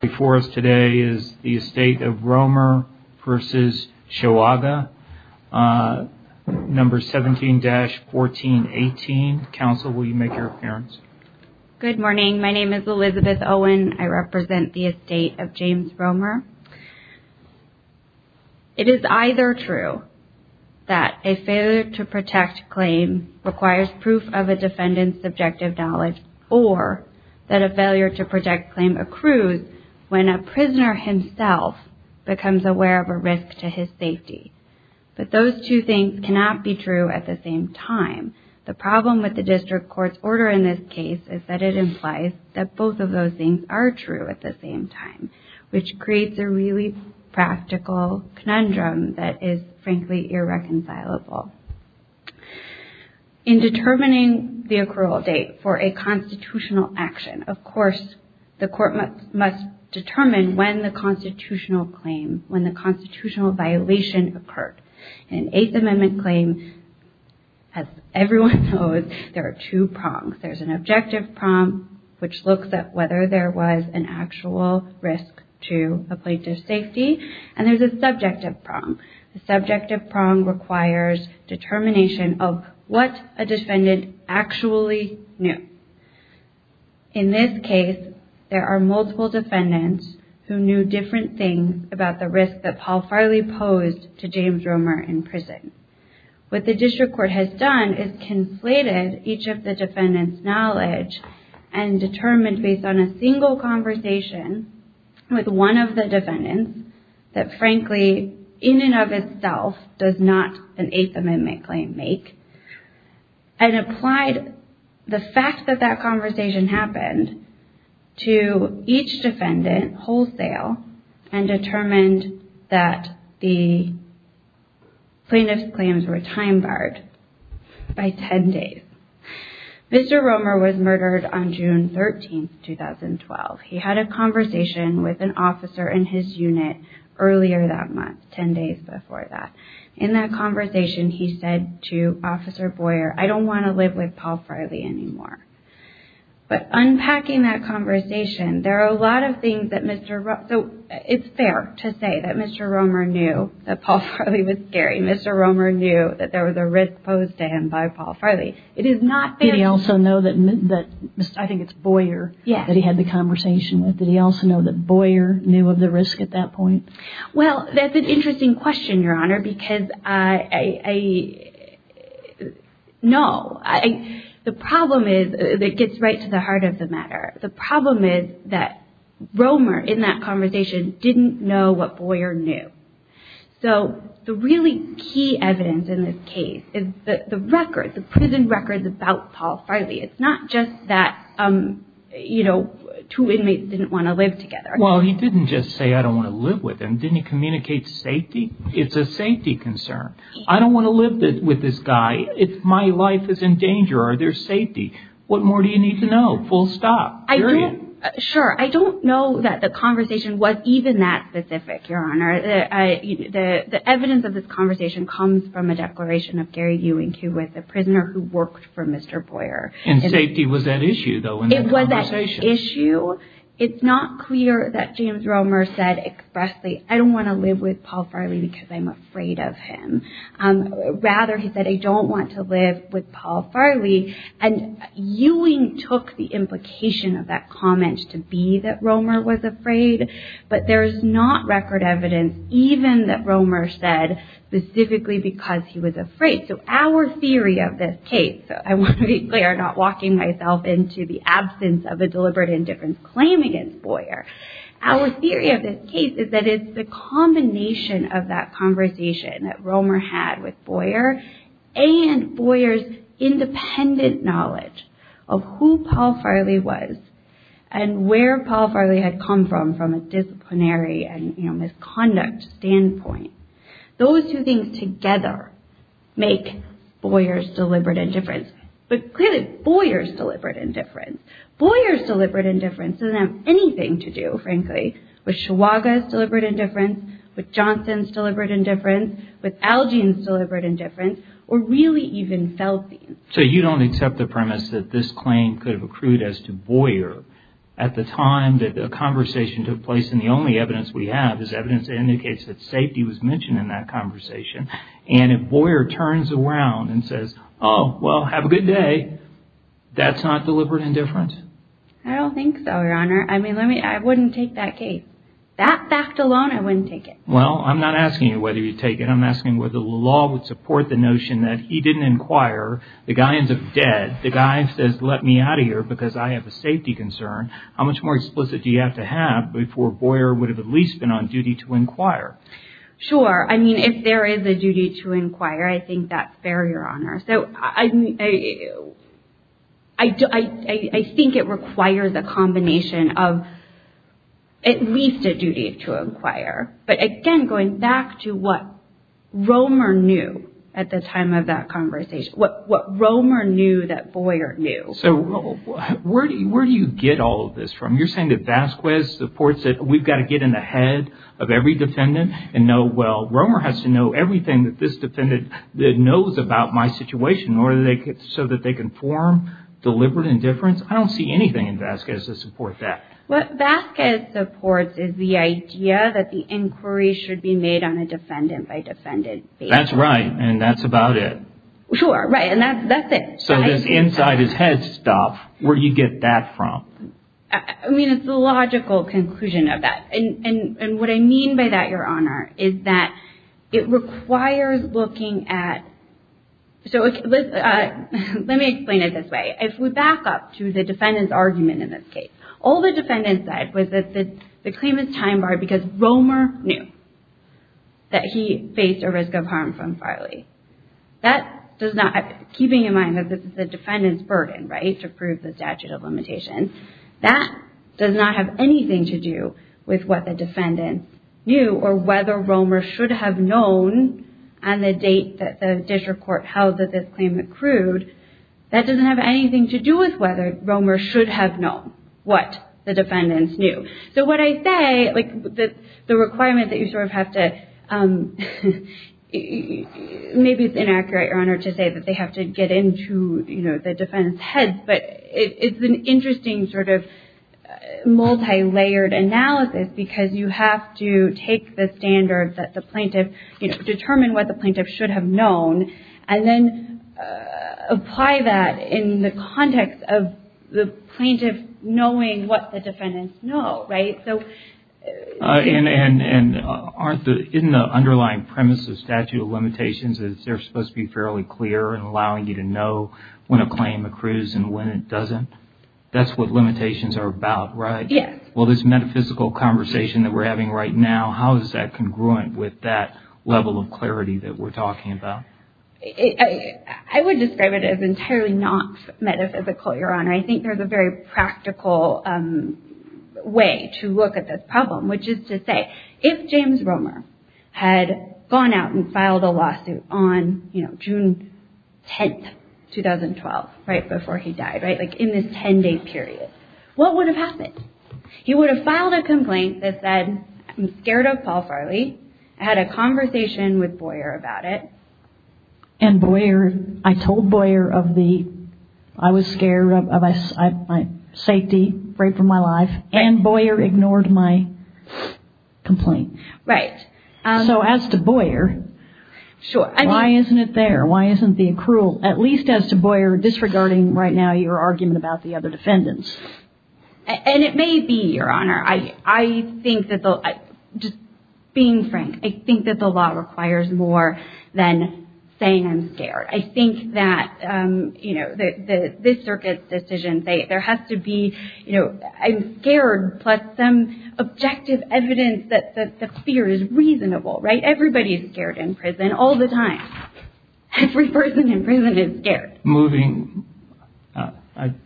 before us today is the estate of Roemer versus Chihuahua number 17-1418 counsel will you make your appearance good morning my name is Elizabeth Owen I represent the estate of James Roemer it is either true that a failure to protect claim requires proof of a defendant's subjective knowledge or that a failure to protect claim accrues when a prisoner himself becomes aware of a risk to his safety but those two things cannot be true at the same time the problem with the district courts order in this case is that it implies that both of those things are true at the same time which creates a really practical conundrum that is frankly irreconcilable in determining the accrual date for a the court must determine when the constitutional claim when the constitutional violation occurred an eighth amendment claim as everyone knows there are two prongs there's an objective prong which looks at whether there was an actual risk to a plaintiff's safety and there's a subjective prong the subjective prong requires determination of what a defendant actually knew in this case there are multiple defendants who knew different things about the risk that Paul Farley posed to James Roemer in prison what the district court has done is conflated each of the defendants knowledge and determined based on a single conversation with one of the defendants that frankly in and of itself does not an eighth amendment claim make and applied the fact that that conversation happened to each defendant wholesale and determined that the plaintiff's claims were time barred by ten days Mr. Roemer was murdered on June 13, 2012. He had a conversation with an officer in his unit earlier that month, ten days before that. In that conversation he said to Officer Boyer, I don't want to live with Paul Farley anymore. But unpacking that conversation there are a lot of things that Mr. Roemer, so it's fair to say that Mr. Roemer knew that Paul Farley was scary. Mr. Roemer knew that there was a risk posed to him by Paul Farley. It is not fair. Did he also know that, I think it's Boyer, that he had the conversation with? Did he also know that Boyer knew of the risk at that point? Well, that's an interesting question, Your Honor, because I know. The problem is, it gets right to the heart of the matter. The problem is that Roemer in that conversation didn't know what Boyer knew. So the really key evidence in this case is the records, the prison records about Paul Farley. It's not just that, you know, two inmates didn't want to live together. Well, he didn't just say, I don't want to live with him. Didn't he communicate safety? It's a safety concern. I don't want to live with this guy. My life is in danger. Are there safety? What more do you need to know? Full stop. Period. Sure. I don't know that the conversation was even that specific, Your Honor. The evidence of this conversation comes from a declaration of Gary Ewing, who was a prisoner who worked for Mr. Boyer. It's not clear that James Roemer said expressly, I don't want to live with Paul Farley because I'm afraid of him. Rather, he said, I don't want to live with Paul Farley. And Ewing took the implication of that comment to be that Roemer was afraid. But there's not record evidence even that Roemer said specifically because he was afraid. So our theory of this case, I want to be clear, I'm not walking myself into the absence of a deliberate indifference claim against Boyer. Our theory of this case is that it's the combination of that conversation that Roemer had with Boyer and Boyer's independent knowledge of who Paul Farley was and where Paul Farley had come from, from a disciplinary and misconduct standpoint. Those two things together make Boyer's deliberate indifference. But clearly, Boyer's deliberate indifference. Boyer's deliberate indifference doesn't have anything to do, frankly, with Shawaga's deliberate indifference, with Johnson's deliberate indifference, with Algian's deliberate indifference, or really even Feldstein's. So you don't accept the premise that this claim could have accrued as to Boyer. At the time that the conversation took place, and the only evidence we have is evidence that indicates that safety was mentioned in that conversation. And if Boyer turns around and says, oh, well, have a good day, that's not deliberate indifference? I don't think so, Your Honor. I mean, I wouldn't take that case. That fact alone, I wouldn't take it. Well, I'm not asking you whether you'd take it. I'm asking whether the law would support the notion that he didn't inquire. The guy ends up dead. The guy says, let me out of here because I have a safety concern. How much more explicit do you have to have before Boyer would have at least been on duty to inquire? Sure. I mean, if there is a duty to inquire, I think that's fair, Your Honor. So I think it requires a combination of at least a duty to inquire. But, again, going back to what Romer knew at the time of that conversation, what Romer knew that Boyer knew. So where do you get all of this from? You're saying that Vasquez supports it. We've got to get in the head of every defendant and know, well, Romer has to know everything that this defendant knows about my situation, so that they can form deliberate indifference? I don't see anything in Vasquez that supports that. What Vasquez supports is the idea that the inquiry should be made on a defendant-by-defendant basis. That's right. And that's about it. Sure. Right. And that's it. So this inside-his-head stuff, where do you get that from? I mean, it's the logical conclusion of that. And what I mean by that, Your Honor, is that it requires looking at – so let me explain it this way. If we back up to the defendant's argument in this case, all the defendant said was that the claim is time-barred because Romer knew that he faced a risk of harm from Farley. That does not – keeping in mind that this is the defendant's burden, right, to prove the statute of limitations, that does not have anything to do with what the defendant knew or whether Romer should have known on the date that the district court held that this claim accrued. That doesn't have anything to do with whether Romer should have known what the defendant knew. So what I say, like, the requirement that you sort of have to – maybe it's inaccurate, Your Honor, to say that they have to get into, you know, the defendant's head, but it's an interesting sort of multilayered analysis because you have to take the standards that the plaintiff – and then apply that in the context of the plaintiff knowing what the defendants know, right? So – And aren't the – isn't the underlying premise of statute of limitations that they're supposed to be fairly clear and allowing you to know when a claim accrues and when it doesn't? That's what limitations are about, right? Yes. Well, this metaphysical conversation that we're having right now, how is that congruent with that level of clarity that we're talking about? I would describe it as entirely not metaphysical, Your Honor. I think there's a very practical way to look at this problem, which is to say, if James Romer had gone out and filed a lawsuit on, you know, June 10, 2012, right before he died, right? Like, in this 10-day period, what would have happened? He would have filed a complaint that said, I'm scared of Paul Farley. I had a conversation with Boyer about it. And Boyer – I told Boyer of the – I was scared of my safety, right, for my life. And Boyer ignored my complaint. Right. So as to Boyer, why isn't it there? Why isn't the accrual, at least as to Boyer, disregarding right now your argument about the other defendants? And it may be, Your Honor. I think that the – just being frank, I think that the law requires more than saying I'm scared. I think that, you know, this Circuit's decision, there has to be, you know, I'm scared plus some objective evidence that the fear is reasonable, right? Everybody is scared in prison all the time. Every person in prison is scared. Moving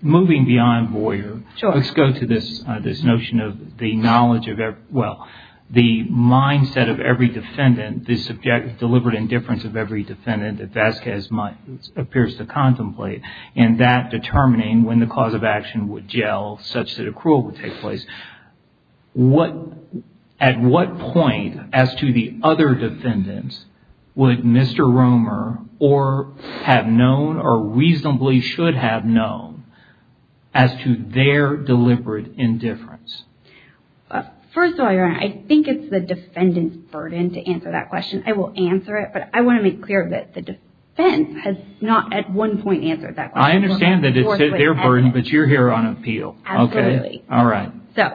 beyond Boyer, let's go to this notion of the knowledge of – well, the mindset of every defendant, the deliberate indifference of every defendant that Vasquez might – appears to contemplate, and that determining when the cause of action would gel such that accrual would take place. At what point, as to the other defendants, would Mr. Romer or have known or reasonably should have known as to their deliberate indifference? First of all, Your Honor, I think it's the defendant's burden to answer that question. I will answer it, but I want to make clear that the defense has not at one point answered that question. I understand that it's their burden, but you're here on appeal. Absolutely. All right. So,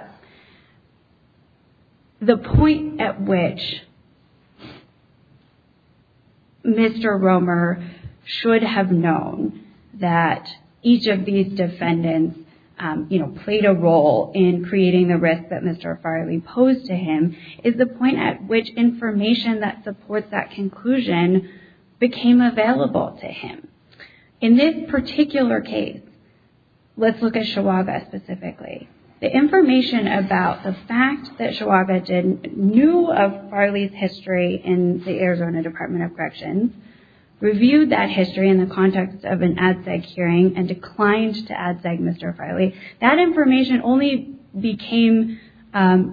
the point at which Mr. Romer should have known that each of these defendants, you know, played a role in creating the risk that Mr. Farley posed to him is the point at which information that supports that conclusion became available to him. In this particular case, let's look at Chihuahua specifically. The information about the fact that Chihuahua knew of Farley's history in the Arizona Department of Corrections, reviewed that history in the context of an ADSEG hearing and declined to ADSEG Mr. Farley, that information only became – the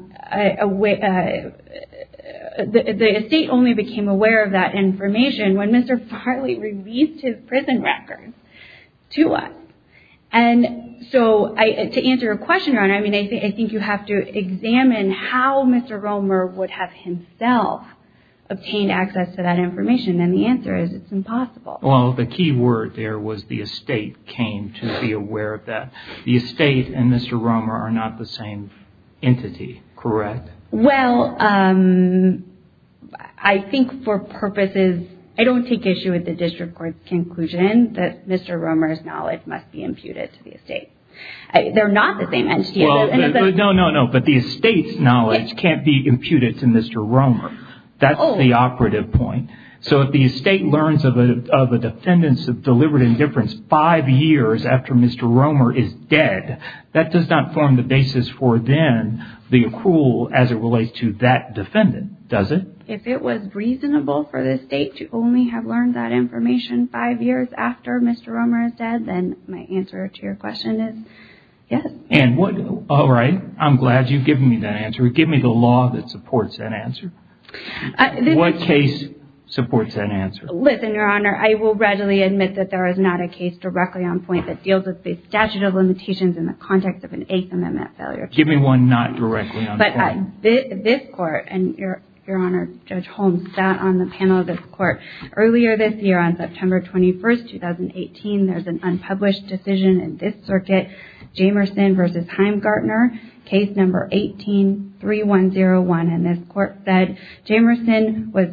estate only became aware of that information when Mr. Farley released his prison records to us. And so, to answer your question, Your Honor, I mean, I think you have to examine how Mr. Romer would have himself obtained access to that information, and the answer is it's impossible. Well, the key word there was the estate came to be aware of that. The estate and Mr. Romer are not the same entity, correct? Well, I think for purposes – I don't take issue with the district court's conclusion that Mr. Romer's knowledge must be imputed to the estate. They're not the same entity. No, no, no, but the estate's knowledge can't be imputed to Mr. Romer. That's the operative point. So, if the estate learns of a defendant's deliberate indifference five years after Mr. Romer is dead, that does not form the basis for then the accrual as it relates to that defendant, does it? If it was reasonable for the estate to only have learned that information five years after Mr. Romer is dead, then my answer to your question is yes. And what – all right, I'm glad you've given me that answer. Give me the law that supports that answer. What case supports that answer? Listen, Your Honor, I will readily admit that there is not a case directly on point that deals with the statute of limitations in the context of an Eighth Amendment failure. Give me one not directly on point. But this court, and Your Honor, Judge Holmes, sat on the panel of this court earlier this year on September 21, 2018. There's an unpublished decision in this circuit, Jamerson v. Heimgartner, case number 18-3101. And this court said Jamerson was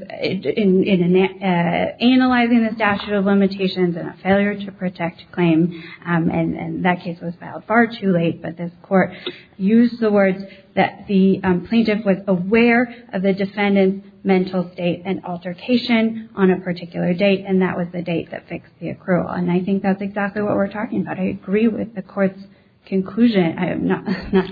analyzing the statute of limitations in a failure-to-protect claim, and that case was filed far too late. But this court used the words that the plaintiff was aware of the defendant's mental state and altercation on a particular date, and that was the date that fixed the accrual. And I think that's exactly what we're talking about. I agree with the court's conclusion. I am not – I'm not – I'm not –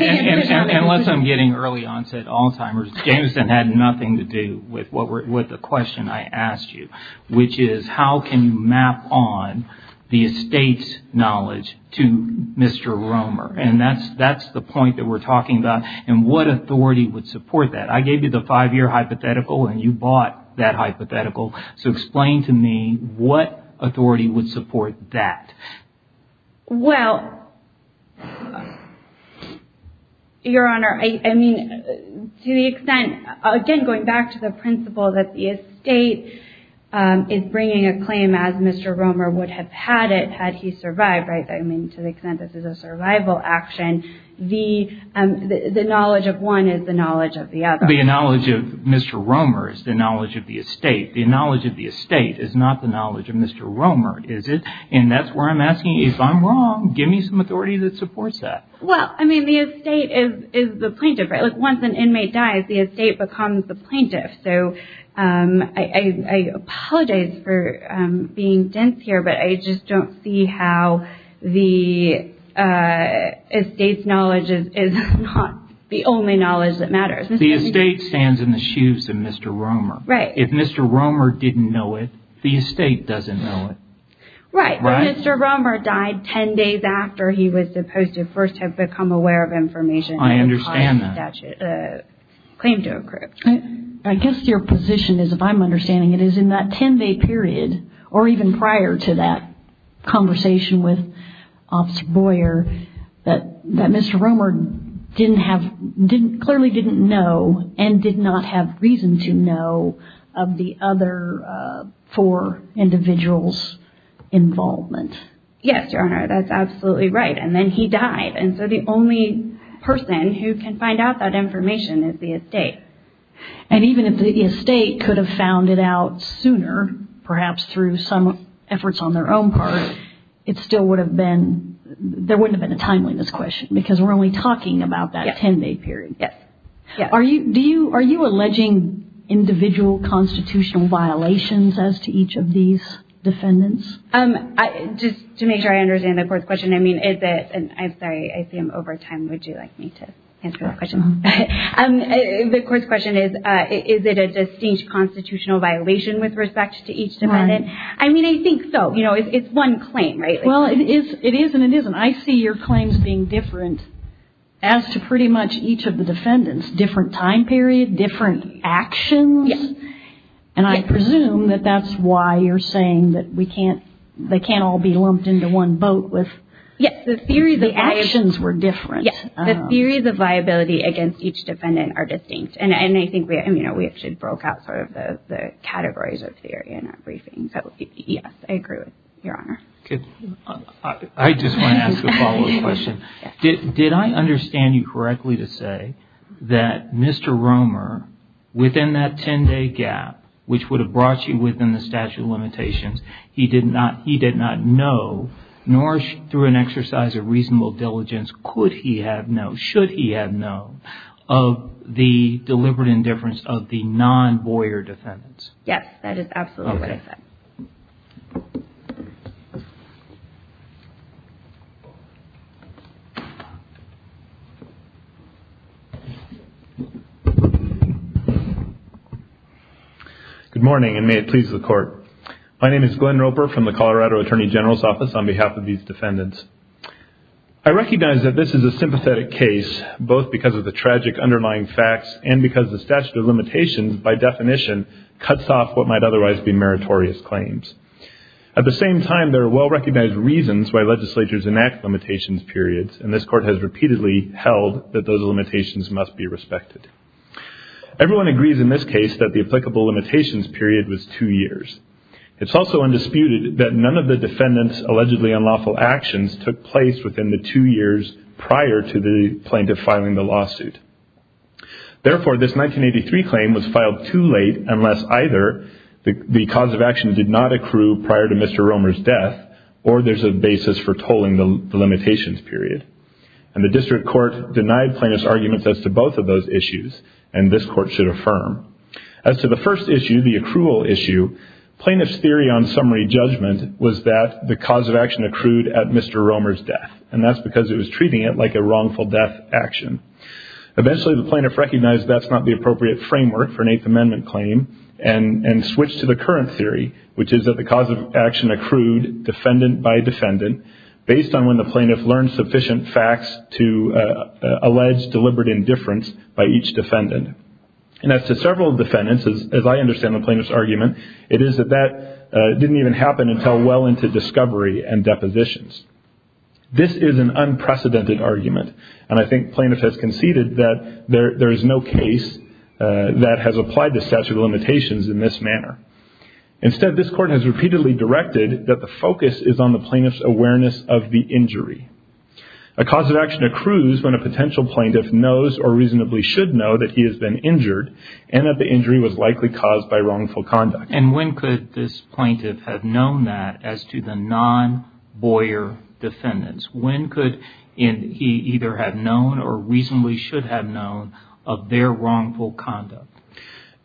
Well, unless I'm getting early-onset Alzheimer's, Jamerson had nothing to do with the question I asked you, which is how can you map on the estate's knowledge to Mr. Romer? And that's – that's the point that we're talking about. And what authority would support that? I gave you the five-year hypothetical, and you bought that hypothetical. So explain to me what authority would support that. Well, Your Honor, I mean, to the extent – again, going back to the principle that the estate is bringing a claim as Mr. Romer would have had it had he survived, right? I mean, to the extent this is a survival action, the knowledge of one is the knowledge of the other. The knowledge of Mr. Romer is the knowledge of the estate. The knowledge of the estate is not the knowledge of Mr. Romer, is it? And that's where I'm asking, if I'm wrong, give me some authority that supports that. Well, I mean, the estate is the plaintiff, right? Like, once an inmate dies, the estate becomes the plaintiff. So I apologize for being dense here, but I just don't see how the estate's knowledge is not the only knowledge that matters. The estate stands in the shoes of Mr. Romer. Right. If Mr. Romer didn't know it, the estate doesn't know it. Right. If Mr. Romer died 10 days after he was supposed to first have become aware of information. I understand that. Claim to a crypt. I guess your position is, if I'm understanding it, is in that 10-day period, or even prior to that conversation with Officer Boyer, that Mr. Romer clearly didn't know and did not have reason to know of the other four individuals' involvement. Yes, Your Honor, that's absolutely right. And then he died. And so the only person who can find out that information is the estate. And even if the estate could have found it out sooner, perhaps through some efforts on their own part, it still would have been – there wouldn't have been a timeliness question, because we're only talking about that 10-day period. Yes. Are you alleging individual constitutional violations as to each of these defendants? Just to make sure I understand the court's question, I mean, is it – I'm sorry, I see I'm over time. Would you like me to answer that question? The court's question is, is it a distinct constitutional violation with respect to each defendant? I mean, I think so. You know, it's one claim, right? Well, it is and it isn't. I see your claims being different as to pretty much each of the defendants' different time period, different actions. Yes. And I presume that that's why you're saying that we can't – they can't all be lumped into one boat with – Yes. The theories of viability – The actions were different. Yes. The theories of viability against each defendant are distinct. And, you know, we actually broke out sort of the categories of theory in our briefing. So, yes, I agree with Your Honor. Okay. I just want to ask a follow-up question. Yes. Did I understand you correctly to say that Mr. Romer, within that 10-day gap, which would have brought you within the statute of limitations, he did not know, nor through an exercise of reasonable diligence, could he have known, should he have known, of the deliberate indifference of the non-Boyer defendants? Yes. That is absolutely what I said. Okay. Good morning, and may it please the Court. My name is Glenn Roper from the Colorado Attorney General's Office on behalf of these defendants. I recognize that this is a sympathetic case, both because of the tragic underlying facts and because the statute of limitations, by definition, cuts off what might otherwise be meritorious claims. At the same time, there are well-recognized reasons why legislatures enact limitations periods, and this Court has repeatedly held that those limitations must be respected. Everyone agrees in this case that the applicable limitations period was two years. It's also undisputed that none of the defendants' allegedly unlawful actions took place within the two years prior to the plaintiff filing the lawsuit. Therefore, this 1983 claim was filed too late unless either the cause of action did not accrue prior to Mr. Romer's death, or there's a basis for tolling the limitations period. And the District Court denied plaintiffs' arguments as to both of those issues, and this Court should affirm. As to the first issue, the accrual issue, plaintiffs' theory on summary judgment was that the cause of action accrued at Mr. Romer's death, and that's because it was treating it like a wrongful death action. Eventually, the plaintiff recognized that's not the appropriate framework for an Eighth Amendment claim and switched to the current theory, which is that the cause of action accrued defendant by defendant based on when the plaintiff learned sufficient facts to allege deliberate indifference by each defendant. And as to several defendants, as I understand the plaintiff's argument, it is that that didn't even happen until well into discovery and depositions. This is an unprecedented argument, and I think plaintiffs have conceded that there is no case that has applied the statute of limitations in this manner. Instead, this Court has repeatedly directed that the focus is on the plaintiff's awareness of the injury. A cause of action accrues when a potential plaintiff knows or reasonably should know that he has been injured and that the injury was likely caused by wrongful conduct. And when could this plaintiff have known that as to the non-Boyer defendants? When could he either have known or reasonably should have known of their wrongful conduct?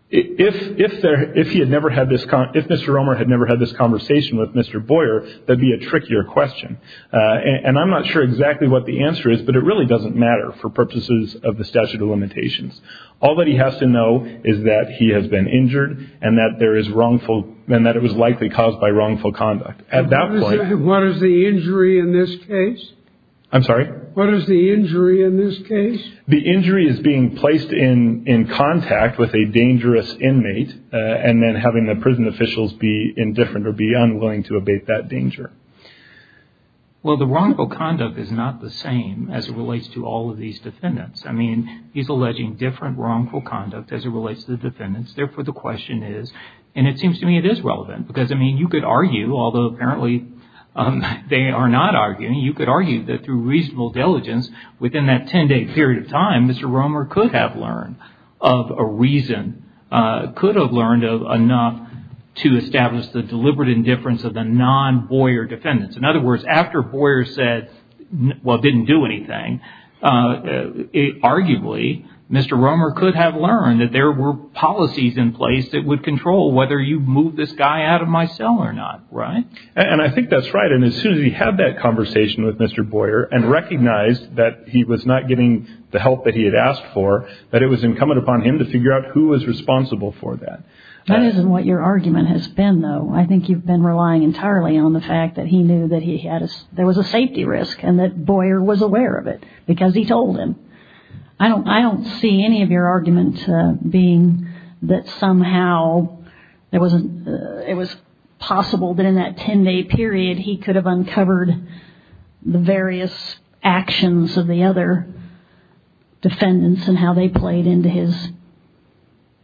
If Mr. Romer had never had this conversation with Mr. Boyer, that would be a trickier question. And I'm not sure exactly what the answer is, but it really doesn't matter for purposes of the statute of limitations. All that he has to know is that he has been injured and that it was likely caused by wrongful conduct. What is the injury in this case? I'm sorry? What is the injury in this case? The injury is being placed in contact with a dangerous inmate and then having the prison officials be indifferent or be unwilling to abate that danger. Well, the wrongful conduct is not the same as it relates to all of these defendants. I mean, he's alleging different wrongful conduct as it relates to the defendants. Therefore, the question is, and it seems to me it is relevant because, I mean, you could argue, although apparently they are not arguing, you could argue that through reasonable diligence within that 10-day period of time, Mr. Romer could have learned of a reason, could have learned enough to establish the deliberate indifference of the non-Boyer defendants. In other words, after Boyer said, well, didn't do anything, arguably Mr. Romer could have learned that there were policies in place that would control whether you move this guy out of my cell or not. Right? And I think that's right. And as soon as he had that conversation with Mr. Boyer and recognized that he was not getting the help that he had asked for, that it was incumbent upon him to figure out who was responsible for that. That isn't what your argument has been, though. I think you've been relying entirely on the fact that he knew that there was a safety risk and that Boyer was aware of it because he told him. I don't see any of your argument being that somehow it was possible that in that 10-day period he could have uncovered the various actions of the other defendants and how they played into his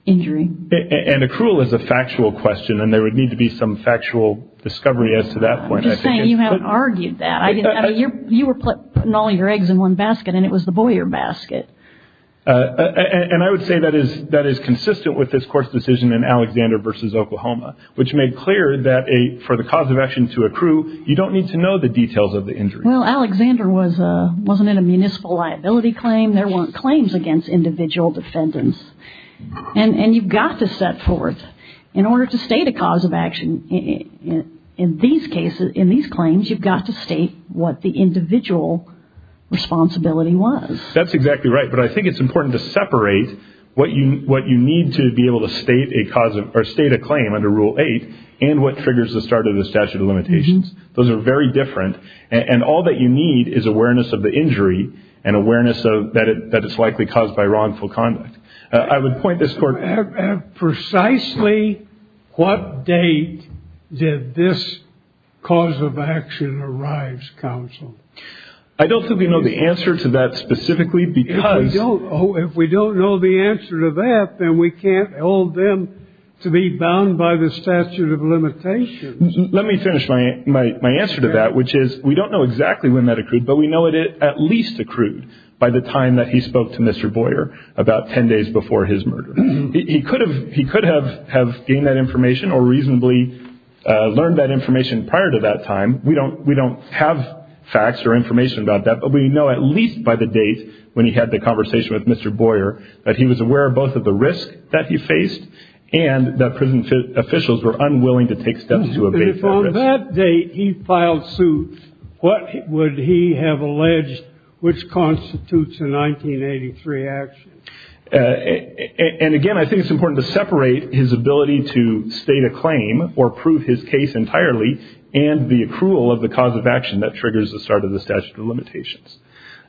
injury. And accrual is a factual question and there would need to be some factual discovery as to that point. I'm just saying you haven't argued that. You were putting all your eggs in one basket and it was the Boyer basket. And I would say that is consistent with this court's decision in Alexander v. Oklahoma, which made clear that for the cause of action to accrue, you don't need to know the details of the injury. Well, Alexander wasn't in a municipal liability claim. There weren't claims against individual defendants. And you've got to set forth, in order to state a cause of action in these claims, you've got to state what the individual responsibility was. That's exactly right. But I think it's important to separate what you need to be able to state a claim under Rule 8 and what triggers the start of the statute of limitations. Those are very different. And all that you need is awareness of the injury and awareness that it's likely caused by wrongful conduct. I would point this court- I don't think we know the answer to that specifically because- If we don't know the answer to that, then we can't hold them to be bound by the statute of limitations. Let me finish my answer to that, which is we don't know exactly when that accrued, but we know it at least accrued by the time that he spoke to Mr. Boyer about 10 days before his murder. He could have gained that information or reasonably learned that information prior to that time. We don't have facts or information about that, but we know at least by the date when he had the conversation with Mr. Boyer that he was aware of both of the risk that he faced and that prison officials were unwilling to take steps to abate that risk. If on that date he filed suit, what would he have alleged, which constitutes a 1983 action? And again, I think it's important to separate his ability to state a claim or prove his case entirely and the accrual of the cause of action that triggers the start of the statute of limitations.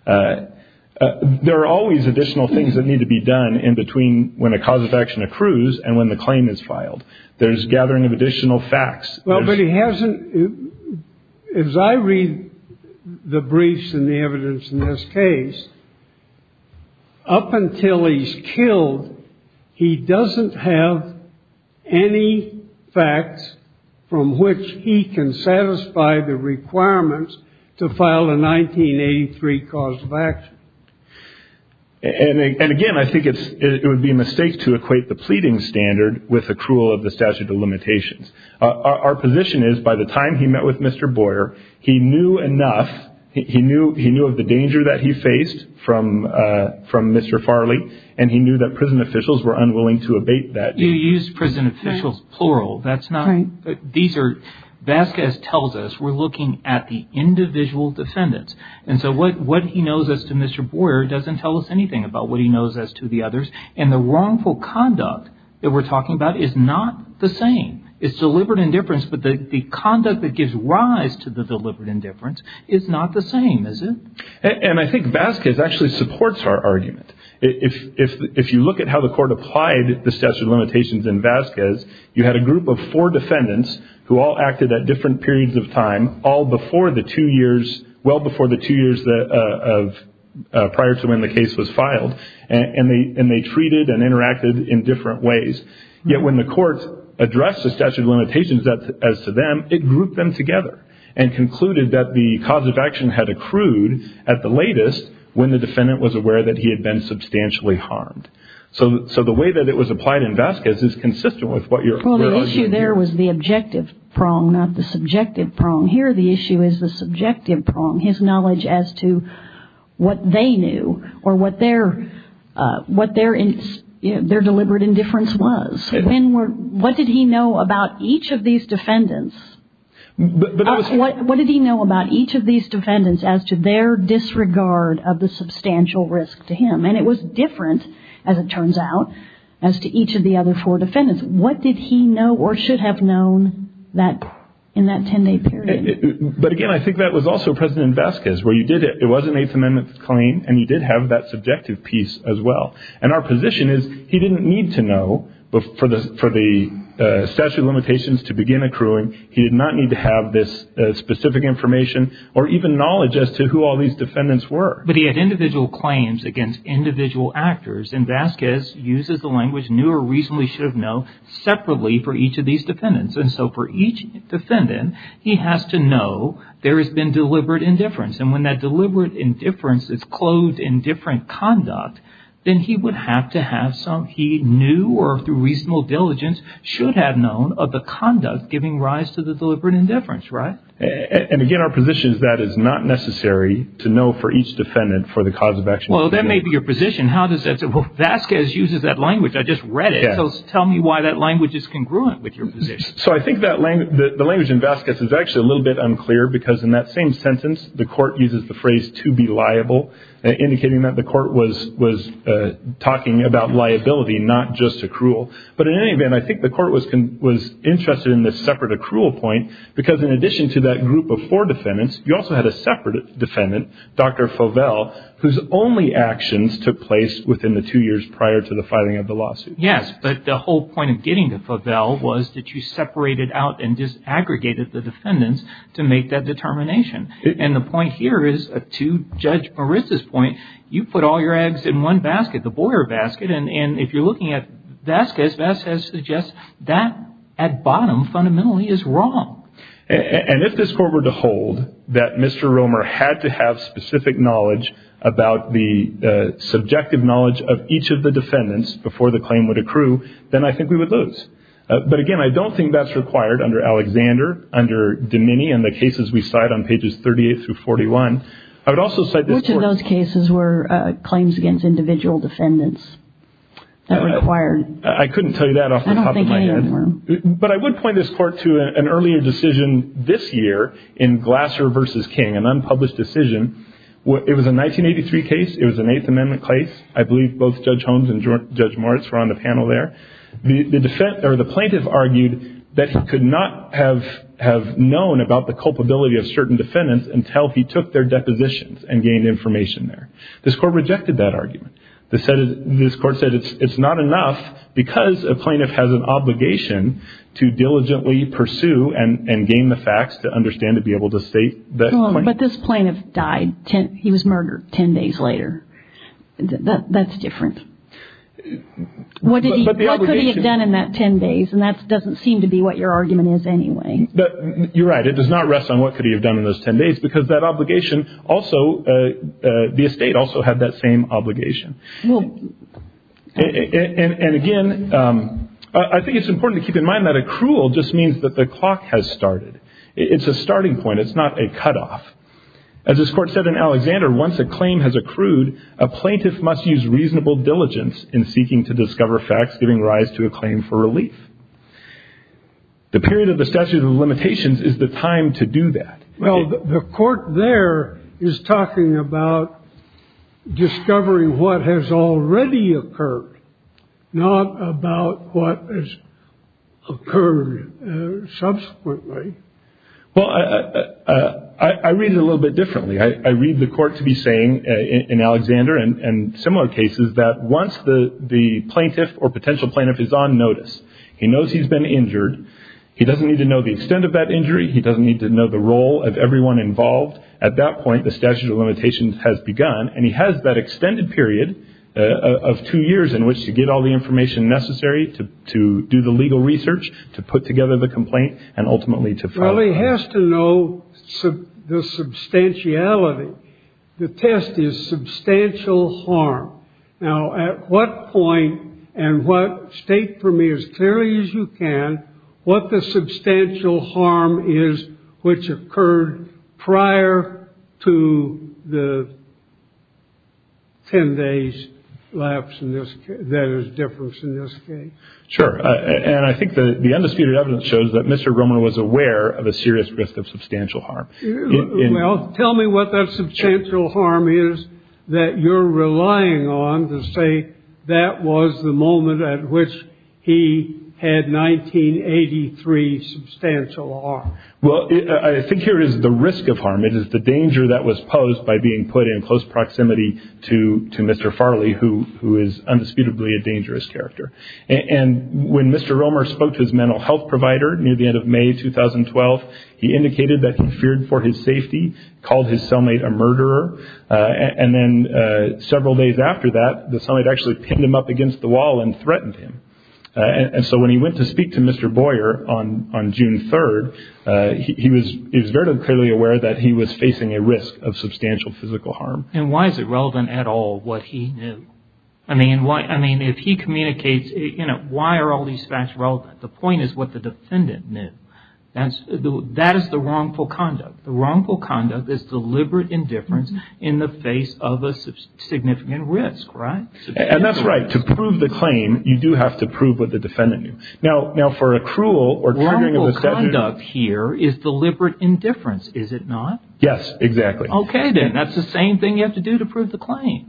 There are always additional things that need to be done in between when a cause of action accrues and when the claim is filed. There's gathering of additional facts. Well, but he hasn't, as I read the briefs and the evidence in this case, up until he's killed, he doesn't have any facts from which he can satisfy the requirements to file a 1983 cause of action. And again, I think it would be a mistake to equate the pleading standard with accrual of the statute of limitations. Our position is by the time he met with Mr. Boyer, he knew enough. He knew of the danger that he faced from Mr. Farley, and he knew that prison officials were unwilling to abate that danger. You used prison officials, plural. These are, Vasquez tells us, we're looking at the individual defendants. And so what he knows as to Mr. Boyer doesn't tell us anything about what he knows as to the others. And the wrongful conduct that we're talking about is not the same. It's deliberate indifference, but the conduct that gives rise to the deliberate indifference is not the same, is it? And I think Vasquez actually supports our argument. If you look at how the court applied the statute of limitations in Vasquez, you had a group of four defendants who all acted at different periods of time, all before the two years, well before the two years prior to when the case was filed. And they treated and interacted in different ways. Yet when the court addressed the statute of limitations as to them, it grouped them together and concluded that the cause of action had accrued at the latest when the defendant was aware that he had been substantially harmed. So the way that it was applied in Vasquez is consistent with what you're arguing. Well, the issue there was the objective prong, not the subjective prong. Here the issue is the subjective prong, his knowledge as to what they knew or what their deliberate indifference was. What did he know about each of these defendants? What did he know about each of these defendants as to their disregard of the substantial risk to him? And it was different, as it turns out, as to each of the other four defendants. What did he know or should have known in that 10-day period? But again, I think that was also present in Vasquez, where it was an Eighth Amendment claim and he did have that subjective piece as well. And our position is he didn't need to know for the statute of limitations to begin accruing. He did not need to have this specific information or even knowledge as to who all these defendants were. But he had individual claims against individual actors. And Vasquez uses the language knew or reasonably should have known separately for each of these defendants. And so for each defendant, he has to know there has been deliberate indifference. And when that deliberate indifference is clothed in different conduct, then he would have to have some he knew or through reasonable diligence should have known of the conduct giving rise to the deliberate indifference, right? And again, our position is that is not necessary to know for each defendant for the cause of action. Well, that may be your position. How does that work? Vasquez uses that language. I just read it. Tell me why that language is congruent with your position. So I think that the language in Vasquez is actually a little bit unclear, because in that same sentence, the court uses the phrase to be liable, indicating that the court was was talking about liability, not just accrual. But in any event, I think the court was was interested in this separate accrual point, because in addition to that group of four defendants, you also had a separate defendant, Dr. Fovell, whose only actions took place within the two years prior to the filing of the lawsuit. Yes, but the whole point of getting to Fovell was that you separated out and disaggregated the defendants to make that determination. And the point here is, to Judge Marissa's point, you put all your eggs in one basket, the Boyer basket. And if you're looking at Vasquez, Vasquez suggests that at bottom fundamentally is wrong. And if this court were to hold that Mr. Romer had to have specific knowledge about the subjective knowledge of each of the defendants before the claim would accrue, then I think we would lose. But again, I don't think that's required under Alexander, under Domeni, and the cases we cite on pages 38 through 41. Which of those cases were claims against individual defendants that were required? I couldn't tell you that off the top of my head. But I would point this court to an earlier decision this year in Glasser v. King, an unpublished decision. It was a 1983 case. It was an Eighth Amendment case. I believe both Judge Holmes and Judge Morris were on the panel there. The plaintiff argued that he could not have known about the culpability of certain defendants until he took their depositions and gained information there. This court rejected that argument. This court said it's not enough because a plaintiff has an obligation to diligently pursue and gain the facts to understand to be able to state that claim. But this plaintiff died. He was murdered ten days later. That's different. What could he have done in that ten days? And that doesn't seem to be what your argument is anyway. You're right. It does not rest on what could he have done in those ten days because that obligation also, the estate also had that same obligation. And again, I think it's important to keep in mind that accrual just means that the clock has started. It's a starting point. It's not a cutoff. As this court said in Alexander, once a claim has accrued, a plaintiff must use reasonable diligence in seeking to discover facts giving rise to a claim for relief. The period of the statute of limitations is the time to do that. Well, the court there is talking about discovering what has already occurred, not about what has occurred subsequently. Well, I read it a little bit differently. I read the court to be saying in Alexander and similar cases that once the plaintiff or potential plaintiff is on notice, he knows he's been injured. He doesn't need to know the extent of that injury. He doesn't need to know the role of everyone involved. At that point, the statute of limitations has begun, and he has that extended period of two years in which to get all the information necessary to do the legal research, to put together the complaint and ultimately to probably has to know the substantiality. The test is substantial harm. Now, at what point and what state for me as clearly as you can, what the substantial harm is, which occurred prior to the. Ten days left in this. There is difference in this. Sure. And I think the undisputed evidence shows that Mr. Roman was aware of a serious risk of substantial harm. Tell me what that substantial harm is that you're relying on to say that was the moment at which he had 1983 substantial. Well, I think here is the risk of harm. It is the danger that was posed by being put in close proximity to to Mr. Farley, who who is undisputedly a dangerous character. And when Mr. Romer spoke to his mental health provider near the end of May 2012, he indicated that he feared for his safety, called his cellmate a murderer. And then several days after that, the summit actually pinned him up against the wall and threatened him. And so when he went to speak to Mr. Boyer on on June 3rd, he was he was very clearly aware that he was facing a risk of substantial physical harm. And why is it relevant at all what he knew? I mean, why? I mean, if he communicates, you know, why are all these facts relevant? The point is what the defendant knew. And that is the wrongful conduct. The wrongful conduct is deliberate indifference in the face of a significant risk. Right. And that's right. To prove the claim, you do have to prove what the defendant knew. Now, now for a cruel or criminal conduct here is deliberate indifference, is it not? Yes, exactly. OK, then that's the same thing you have to do to prove the claim.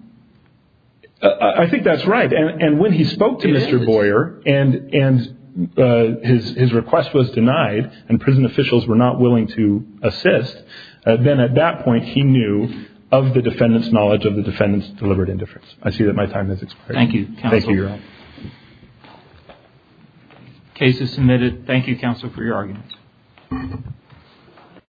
I think that's right. And when he spoke to Mr. Boyer and and his his request was denied and prison officials were not willing to assist, then at that point he knew of the defendant's knowledge of the defendant's deliberate indifference. I see that my time has expired. Thank you. Thank you. Cases submitted. Thank you, counsel, for your argument.